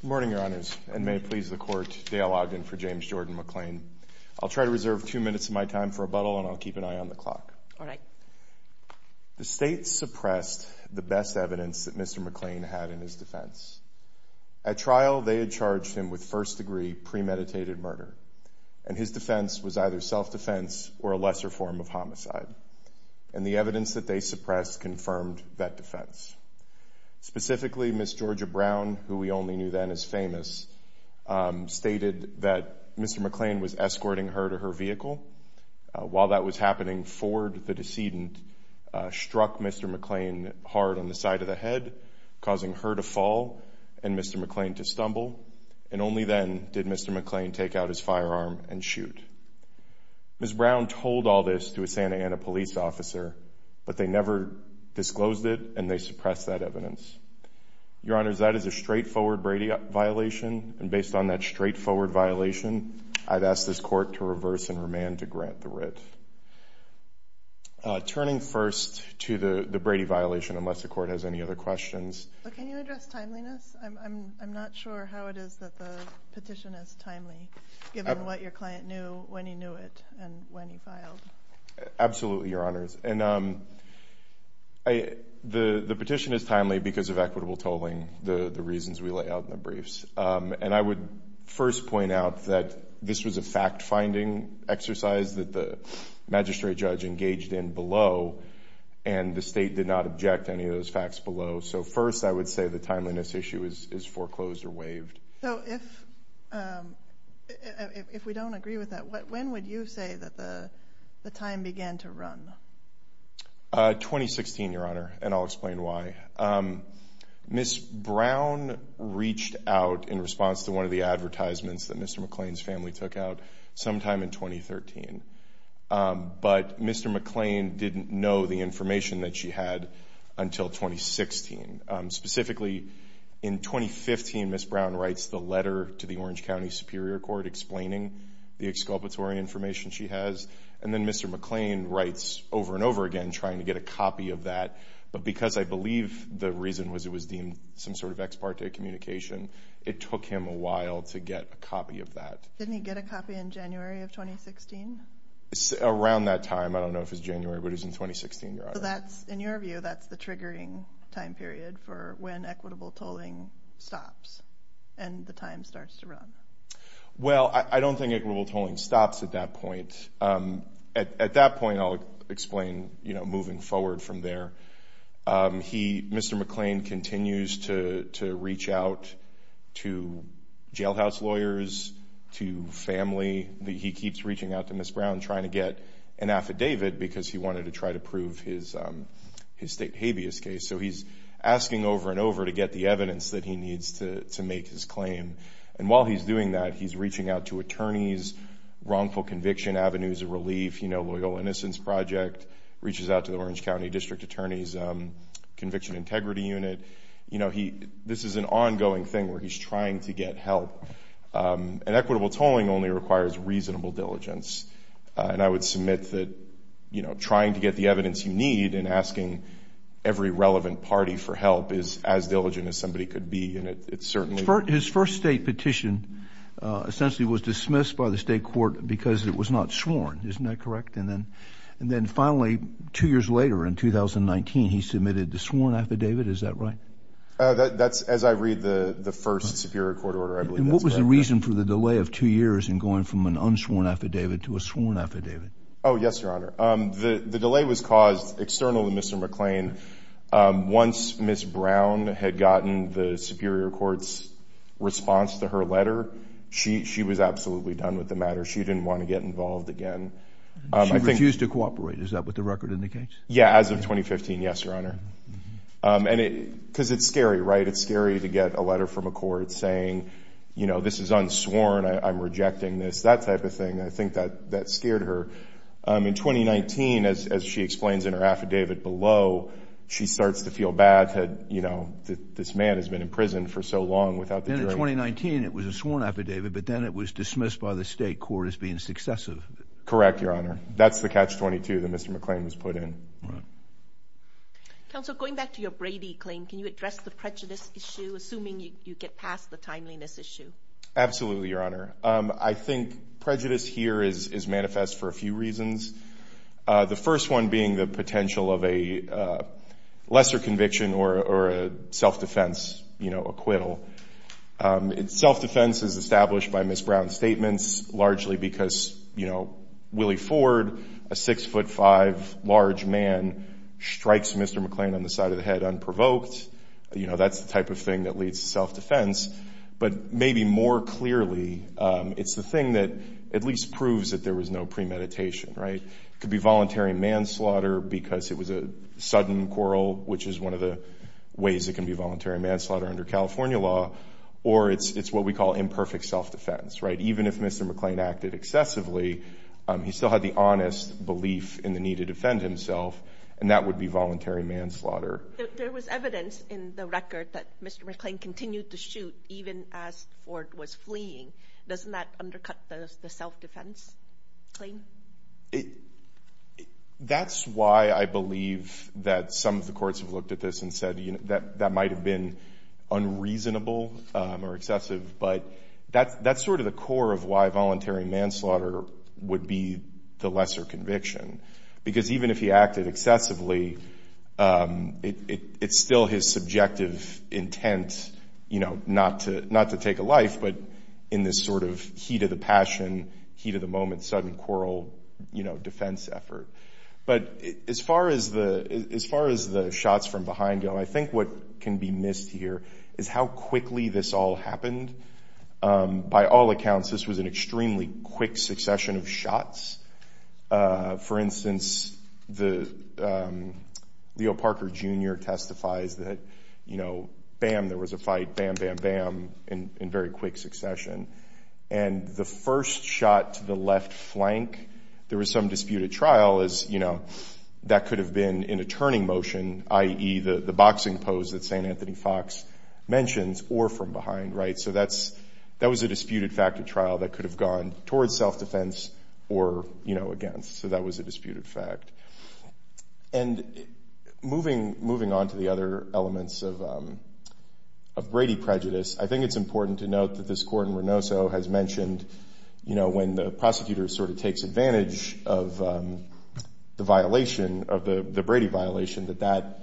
Good morning, Your Honors, and may it please the Court, Dale Ogden for James Jordan McClain. I'll try to reserve two minutes of my time for rebuttal, and I'll keep an eye on the clock. All right. The State suppressed the best evidence that Mr. McClain had in his defense. At trial, they had charged him with first-degree premeditated murder, and his defense was either self-defense or a lesser form of homicide. And the evidence that they suppressed confirmed that defense. Specifically, Ms. Georgia Brown, who we only knew then as famous, stated that Mr. McClain was escorting her to her vehicle. While that was happening, Ford, the decedent, struck Mr. McClain hard on the side of the head, causing her to fall and Mr. McClain to stumble. And only then did Mr. McClain take out his firearm and shoot. Ms. Brown told all this to a Santa Ana police officer, but they never disclosed it, and they suppressed that evidence. Your Honors, that is a straightforward Brady violation, and based on that straightforward violation, I've asked this Court to reverse and remand to grant the writ. Turning first to the Brady violation, unless the Court has any other questions. Can you address timeliness? I'm not sure how it is that the petition is timely, given what your client knew, when he knew it, and when he filed. Absolutely, Your Honors. And the petition is timely because of equitable tolling, the reasons we lay out in the briefs. And I would first point out that this was a fact-finding exercise that the magistrate judge engaged in below, and the State did not object to any of those facts below. So first I would say the timeliness issue is foreclosed or waived. So if we don't agree with that, when would you say that the time began to run? 2016, Your Honor, and I'll explain why. Ms. Brown reached out in response to one of the advertisements that Mr. McClain's family took out sometime in 2013, but Mr. McClain didn't know the information that she had until 2016. Specifically, in 2015, Ms. Brown writes the letter to the Orange County Superior Court explaining the exculpatory information she has, and then Mr. McClain writes over and over again trying to get a copy of that. But because I believe the reason was it was deemed some sort of ex parte communication, it took him a while to get a copy of that. Didn't he get a copy in January of 2016? Around that time. I don't know if it was January, but it was in 2016, Your Honor. So in your view, that's the triggering time period for when equitable tolling stops and the time starts to run. Well, I don't think equitable tolling stops at that point. At that point, I'll explain moving forward from there. Mr. McClain continues to reach out to jailhouse lawyers, to family. He keeps reaching out to Ms. Brown trying to get an affidavit because he wanted to try to prove his state habeas case. So he's asking over and over to get the evidence that he needs to make his claim. And while he's doing that, he's reaching out to attorneys, wrongful conviction avenues of relief, you know, Loyal Innocence Project, reaches out to the Orange County District Attorney's Conviction Integrity Unit. This is an ongoing thing where he's trying to get help. And equitable tolling only requires reasonable diligence. And I would submit that, you know, trying to get the evidence you need and asking every relevant party for help is as diligent as somebody could be. His first state petition essentially was dismissed by the state court because it was not sworn. Isn't that correct? And then finally, two years later in 2019, he submitted the sworn affidavit. Is that right? That's as I read the first Superior Court order. And what was the reason for the delay of two years in going from an unsworn affidavit to a sworn affidavit? Oh, yes, Your Honor. The delay was caused externally, Mr. McClain. Once Ms. Brown had gotten the Superior Court's response to her letter, she was absolutely done with the matter. She didn't want to get involved again. She refused to cooperate. Is that what the record indicates? Yeah, as of 2015, yes, Your Honor. Because it's scary, right? It's scary to get a letter from a court saying, you know, this is unsworn, I'm rejecting this, that type of thing. I think that scared her. In 2019, as she explains in her affidavit below, she starts to feel bad that, you know, this man has been in prison for so long without the jury. Then in 2019, it was a sworn affidavit, but then it was dismissed by the state court as being successive. Correct, Your Honor. That's the catch-22 that Mr. McClain was put in. Counsel, going back to your Brady claim, can you address the prejudice issue, assuming you get past the timeliness issue? Absolutely, Your Honor. I think prejudice here is manifest for a few reasons, the first one being the potential of a lesser conviction or a self-defense, you know, acquittal. Self-defense is established by Ms. Brown's statements, largely because, you know, Willie Ford, a 6'5", large man, strikes Mr. McClain on the side of the head unprovoked. You know, that's the type of thing that leads to self-defense. But maybe more clearly, it's the thing that at least proves that there was no premeditation, right? It could be voluntary manslaughter because it was a sudden quarrel, which is one of the ways it can be voluntary manslaughter under California law, or it's what we call imperfect self-defense, right? Even if Mr. McClain acted excessively, he still had the honest belief in the need to defend himself, and that would be voluntary manslaughter. There was evidence in the record that Mr. McClain continued to shoot even as Ford was fleeing. Doesn't that undercut the self-defense claim? That's why I believe that some of the courts have looked at this and said, you know, that might have been unreasonable or excessive, but that's sort of the core of why voluntary manslaughter would be the lesser conviction, because even if he acted excessively, it's still his subjective intent, you know, not to take a life, but in this sort of heat of the passion, heat of the moment, sudden quarrel, you know, defense effort. But as far as the shots from behind him, I think what can be missed here is how quickly this all happened. By all accounts, this was an extremely quick succession of shots. For instance, Leo Parker Jr. testifies that, you know, bam, there was a fight, bam, bam, bam, in very quick succession. And the first shot to the left flank, there was some disputed trial as, you know, that could have been in a turning motion, i.e. the boxing pose that St. Anthony Fox mentions, or from behind, right? So that was a disputed fact at trial that could have gone towards self-defense or, you know, against. So that was a disputed fact. And moving on to the other elements of Brady prejudice, I think it's important to note that this court in Renoso has mentioned, you know, when the prosecutor sort of takes advantage of the violation, of the Brady violation, that that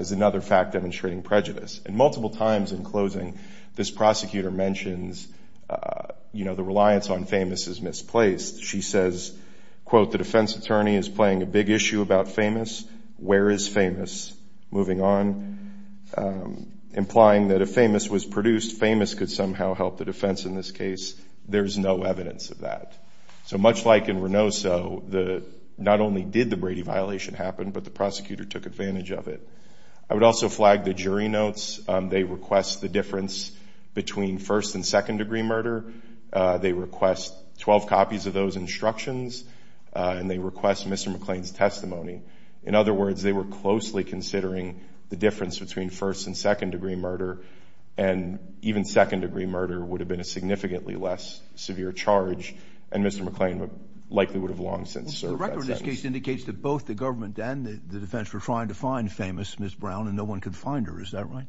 is another fact demonstrating prejudice. And multiple times in closing, this prosecutor mentions, you know, the reliance on famous is misplaced. She says, quote, the defense attorney is playing a big issue about famous. Where is famous? Moving on, implying that if famous was produced, famous could somehow help the defense in this case. There's no evidence of that. So much like in Renoso, not only did the Brady violation happen, but the prosecutor took advantage of it. I would also flag the jury notes. They request the difference between first and second degree murder. They request 12 copies of those instructions, and they request Mr. McClain's testimony. In other words, they were closely considering the difference between first and second degree murder, and even second degree murder would have been a significantly less severe charge, and Mr. McClain likely would have long since served that sentence. This case indicates that both the government and the defense were trying to find famous Ms. Brown, and no one could find her. Is that right?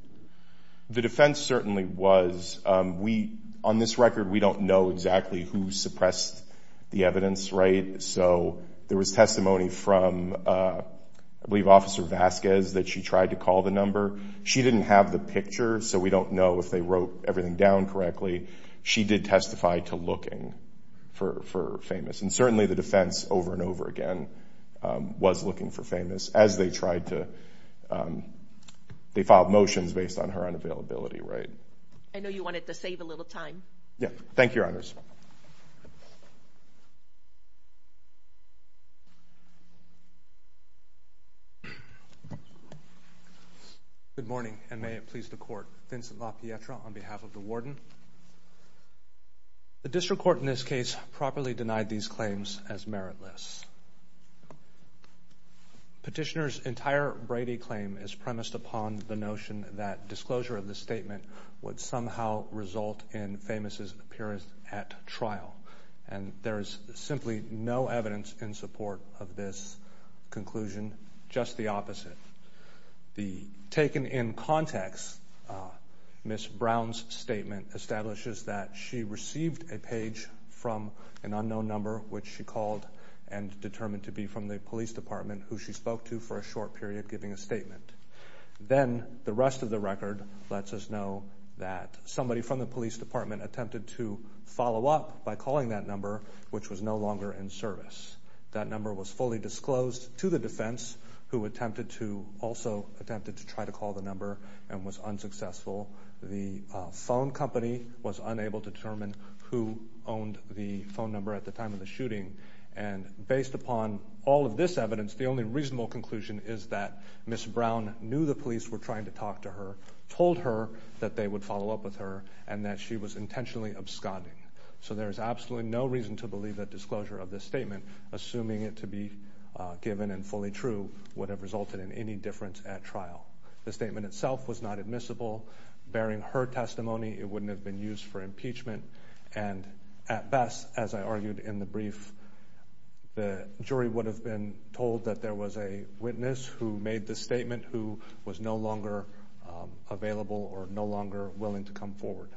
The defense certainly was. We, on this record, we don't know exactly who suppressed the evidence, right? So there was testimony from, I believe, Officer Vasquez that she tried to call the number. She didn't have the picture, so we don't know if they wrote everything down correctly. She did testify to looking for famous. And certainly the defense, over and over again, was looking for famous as they tried to they filed motions based on her unavailability, right? I know you wanted to save a little time. Yeah. Thank you, Your Honors. Good morning, and may it please the Court. Vincent LaPietra on behalf of the Warden. The district court in this case properly denied these claims as meritless. Petitioner's entire Brady claim is premised upon the notion that disclosure of the statement would somehow result in famous' appearance at trial, and there is simply no evidence in support of this conclusion, just the opposite. Taken in context, Ms. Brown's statement establishes that she received a page from an unknown number which she called and determined to be from the police department, who she spoke to for a short period, giving a statement. Then the rest of the record lets us know that somebody from the police department attempted to follow up by calling that number, which was no longer in service. That number was fully disclosed to the defense, who also attempted to try to call the number and was unsuccessful. The phone company was unable to determine who owned the phone number at the time of the shooting, and based upon all of this evidence, the only reasonable conclusion is that Ms. Brown knew the police were trying to talk to her, told her that they would follow up with her, and that she was intentionally absconding. So there is absolutely no reason to believe that disclosure of this statement, assuming it to be given and fully true, would have resulted in any difference at trial. The statement itself was not admissible. Bearing her testimony, it wouldn't have been used for impeachment, and at best, as I argued in the brief, the jury would have been told that there was a witness who made the statement who was no longer available or no longer willing to come forward.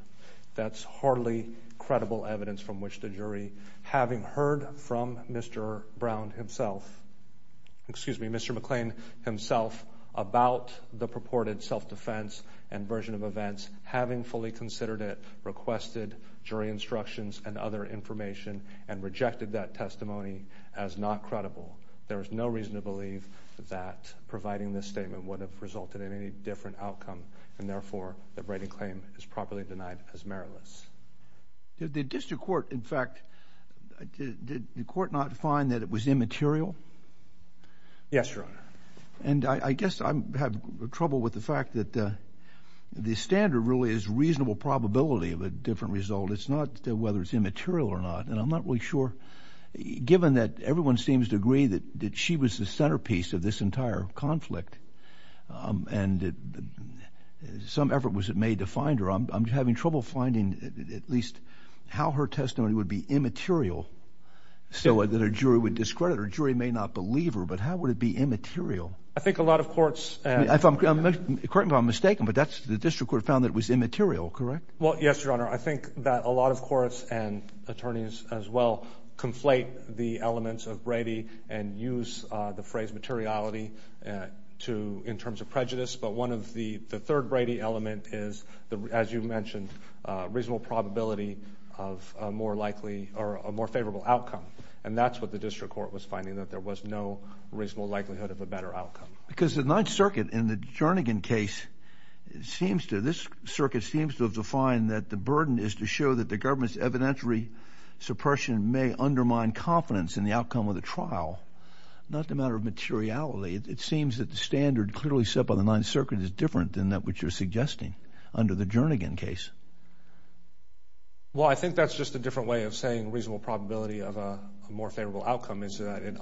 That's hardly credible evidence from which the jury, having heard from Mr. Brown himself, excuse me, Mr. McClain himself, about the purported self-defense and version of events, having fully considered it, requested jury instructions and other information, and rejected that testimony as not credible. There is no reason to believe that providing this statement would have resulted in any different outcome, and therefore, that Brady's claim is properly denied as meritless. Did the district court, in fact, did the court not find that it was immaterial? Yes, Your Honor. And I guess I have trouble with the fact that the standard really is reasonable probability of a different result. It's not whether it's immaterial or not. And I'm not really sure, given that everyone seems to agree that she was the centerpiece of this entire conflict, and some effort was made to find her. I'm having trouble finding at least how her testimony would be immaterial, so that a jury would discredit her. A jury may not believe her, but how would it be immaterial? I think a lot of courts— Correct me if I'm mistaken, but the district court found that it was immaterial, correct? Well, yes, Your Honor. I think that a lot of courts and attorneys as well conflate the elements of Brady and use the phrase materiality in terms of prejudice, but one of the—the third Brady element is, as you mentioned, reasonable probability of a more likely—or a more favorable outcome. And that's what the district court was finding, that there was no reasonable likelihood of a better outcome. Because the Ninth Circuit in the Jernigan case seems to— this circuit seems to have defined that the burden is to show that the government's evidentiary suppression may undermine confidence in the outcome of the trial, not the matter of materiality. It seems that the standard clearly set by the Ninth Circuit is different than that which you're suggesting under the Jernigan case. Well, I think that's just a different way of saying reasonable probability of a more favorable outcome is that it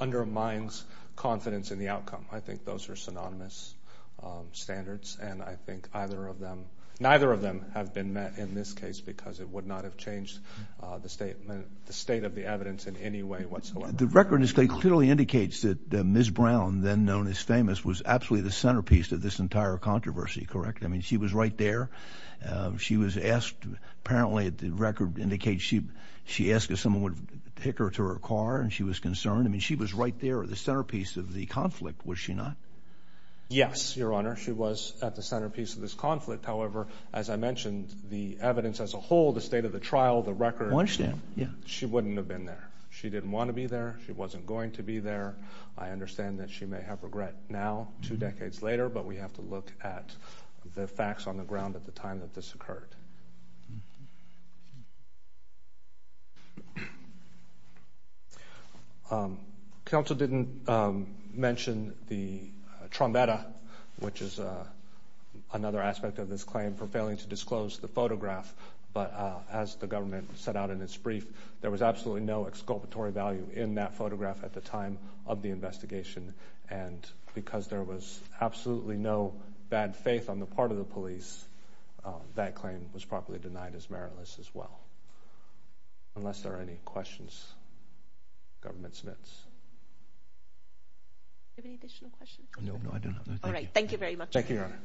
undermines confidence in the outcome. I think those are synonymous standards, and I think either of them— the state of the evidence in any way whatsoever. The record clearly indicates that Ms. Brown, then known as famous, was absolutely the centerpiece of this entire controversy, correct? I mean, she was right there. She was asked—apparently the record indicates she asked if someone would take her to her car, and she was concerned. I mean, she was right there at the centerpiece of the conflict, was she not? Yes, Your Honor, she was at the centerpiece of this conflict. However, as I mentioned, the evidence as a whole, the state of the trial, the record— I understand, yeah. She wouldn't have been there. She didn't want to be there. She wasn't going to be there. I understand that she may have regret now, two decades later, but we have to look at the facts on the ground at the time that this occurred. Counsel didn't mention the trombetta, which is another aspect of this claim for failing to disclose the photograph, but as the government set out in its brief, there was absolutely no exculpatory value in that photograph at the time of the investigation, and because there was absolutely no bad faith on the part of the police, that claim was probably denied as meritless as well. Unless there are any questions, Government Smiths? Do you have any additional questions? No, I do not. All right, thank you very much. Thank you, Your Honor.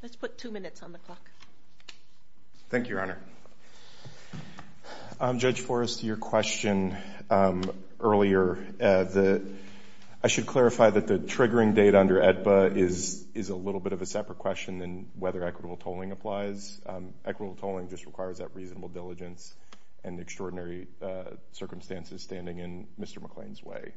Let's put two minutes on the clock. Thank you, Your Honor. Judge Forrest, your question earlier, I should clarify that the triggering date under AEDPA is a little bit of a separate question than whether equitable tolling applies. Equitable tolling just requires that reasonable diligence and extraordinary circumstances standing in Mr. McClain's way.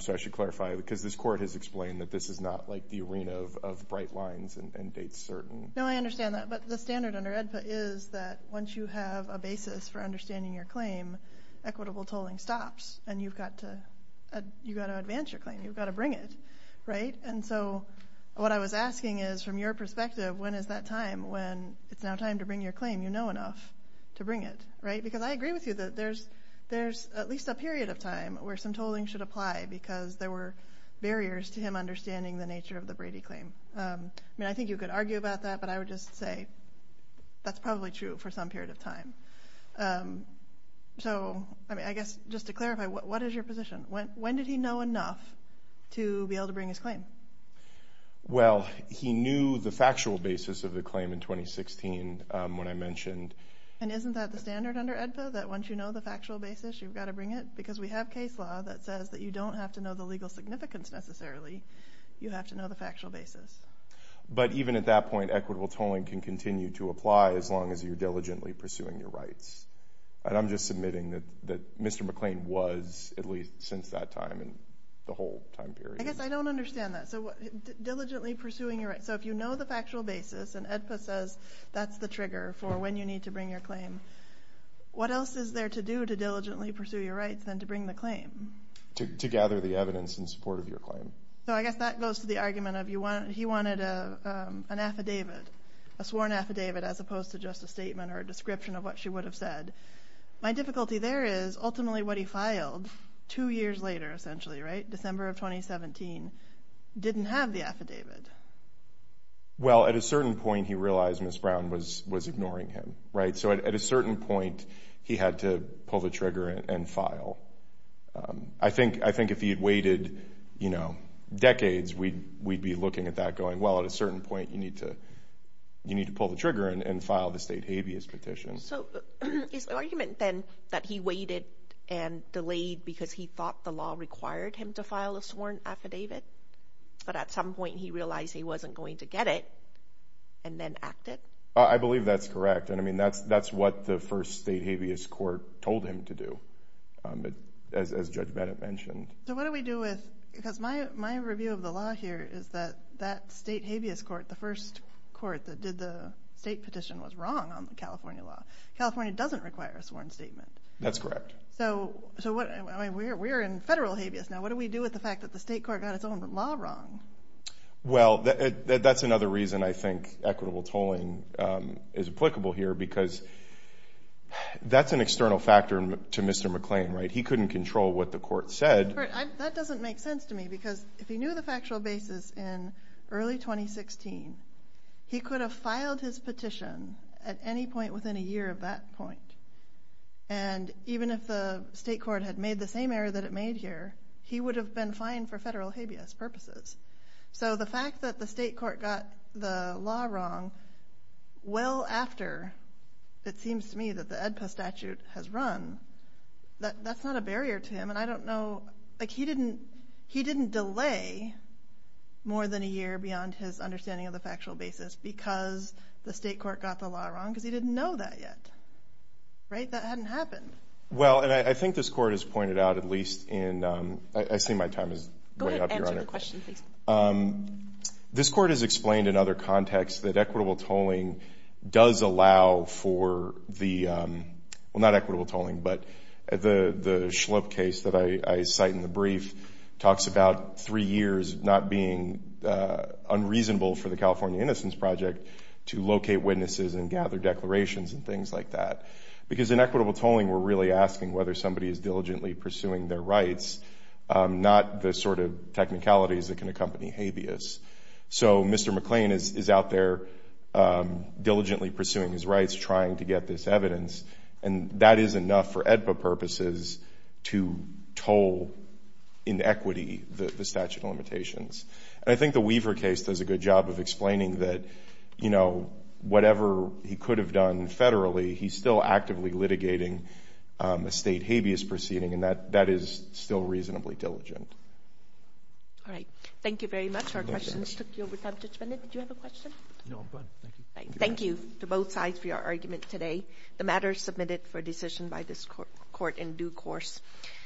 So I should clarify, because this Court has explained that this is not like the arena of bright lines and dates certain. No, I understand that, but the standard under AEDPA is that once you have a basis for understanding your claim, then equitable tolling stops, and you've got to advance your claim. You've got to bring it, right? And so what I was asking is, from your perspective, when is that time when it's now time to bring your claim you know enough to bring it, right? Because I agree with you that there's at least a period of time where some tolling should apply because there were barriers to him understanding the nature of the Brady claim. I mean, I think you could argue about that, but I would just say that's probably true for some period of time. So I guess just to clarify, what is your position? When did he know enough to be able to bring his claim? Well, he knew the factual basis of the claim in 2016 when I mentioned. And isn't that the standard under AEDPA, that once you know the factual basis, you've got to bring it? Because we have case law that says that you don't have to know the legal significance necessarily. You have to know the factual basis. But even at that point, equitable tolling can continue to apply as long as you're diligently pursuing your rights. And I'm just submitting that Mr. McClain was at least since that time and the whole time period. I guess I don't understand that. So diligently pursuing your rights. So if you know the factual basis and AEDPA says that's the trigger for when you need to bring your claim, what else is there to do to diligently pursue your rights than to bring the claim? To gather the evidence in support of your claim. So I guess that goes to the argument of he wanted an affidavit, a sworn affidavit, as opposed to just a statement or a description of what she would have said. My difficulty there is ultimately what he filed two years later, essentially, right, December of 2017, didn't have the affidavit. Well, at a certain point he realized Ms. Brown was ignoring him, right? So at a certain point he had to pull the trigger and file. I think if he had waited, you know, decades, we'd be looking at that going, well, at a certain point you need to pull the trigger and file the state habeas petition. So his argument then that he waited and delayed because he thought the law required him to file a sworn affidavit, but at some point he realized he wasn't going to get it and then acted? I believe that's correct. And, I mean, that's what the first state habeas court told him to do, as Judge Bennett mentioned. So what do we do with, because my review of the law here is that that state habeas court, the first court that did the state petition was wrong on the California law. California doesn't require a sworn statement. That's correct. So we're in federal habeas now. What do we do with the fact that the state court got its own law wrong? Well, that's another reason I think equitable tolling is applicable here, because that's an external factor to Mr. McClain, right? He couldn't control what the court said. That doesn't make sense to me, because if he knew the factual basis in early 2016, he could have filed his petition at any point within a year of that point. And even if the state court had made the same error that it made here, he would have been fined for federal habeas purposes. So the fact that the state court got the law wrong well after, it seems to me, that the AEDPA statute has run, that's not a barrier to him. And I don't know, like he didn't delay more than a year beyond his understanding of the factual basis because the state court got the law wrong, because he didn't know that yet. Right? That hadn't happened. Well, and I think this court has pointed out at least in—I see my time is way up, Your Honor. Go ahead and answer the question, please. This court has explained in other contexts that equitable tolling does allow for the— well, not equitable tolling, but the Schlup case that I cite in the brief talks about three years not being unreasonable for the California Innocence Project to locate witnesses and gather declarations and things like that. Because in equitable tolling, we're really asking whether somebody is diligently pursuing their rights, not the sort of technicalities that can accompany habeas. So Mr. McLean is out there diligently pursuing his rights trying to get this evidence, and that is enough for AEDPA purposes to toll in equity the statute of limitations. And I think the Weaver case does a good job of explaining that, you know, whatever he could have done federally, he's still actively litigating a state habeas proceeding, and that is still reasonably diligent. All right. Thank you very much. Our questions took you over time. Judge Bennett, did you have a question? No, I'm fine. Thank you. Thank you to both sides for your argument today. The matter is submitted for decision by this court in due course.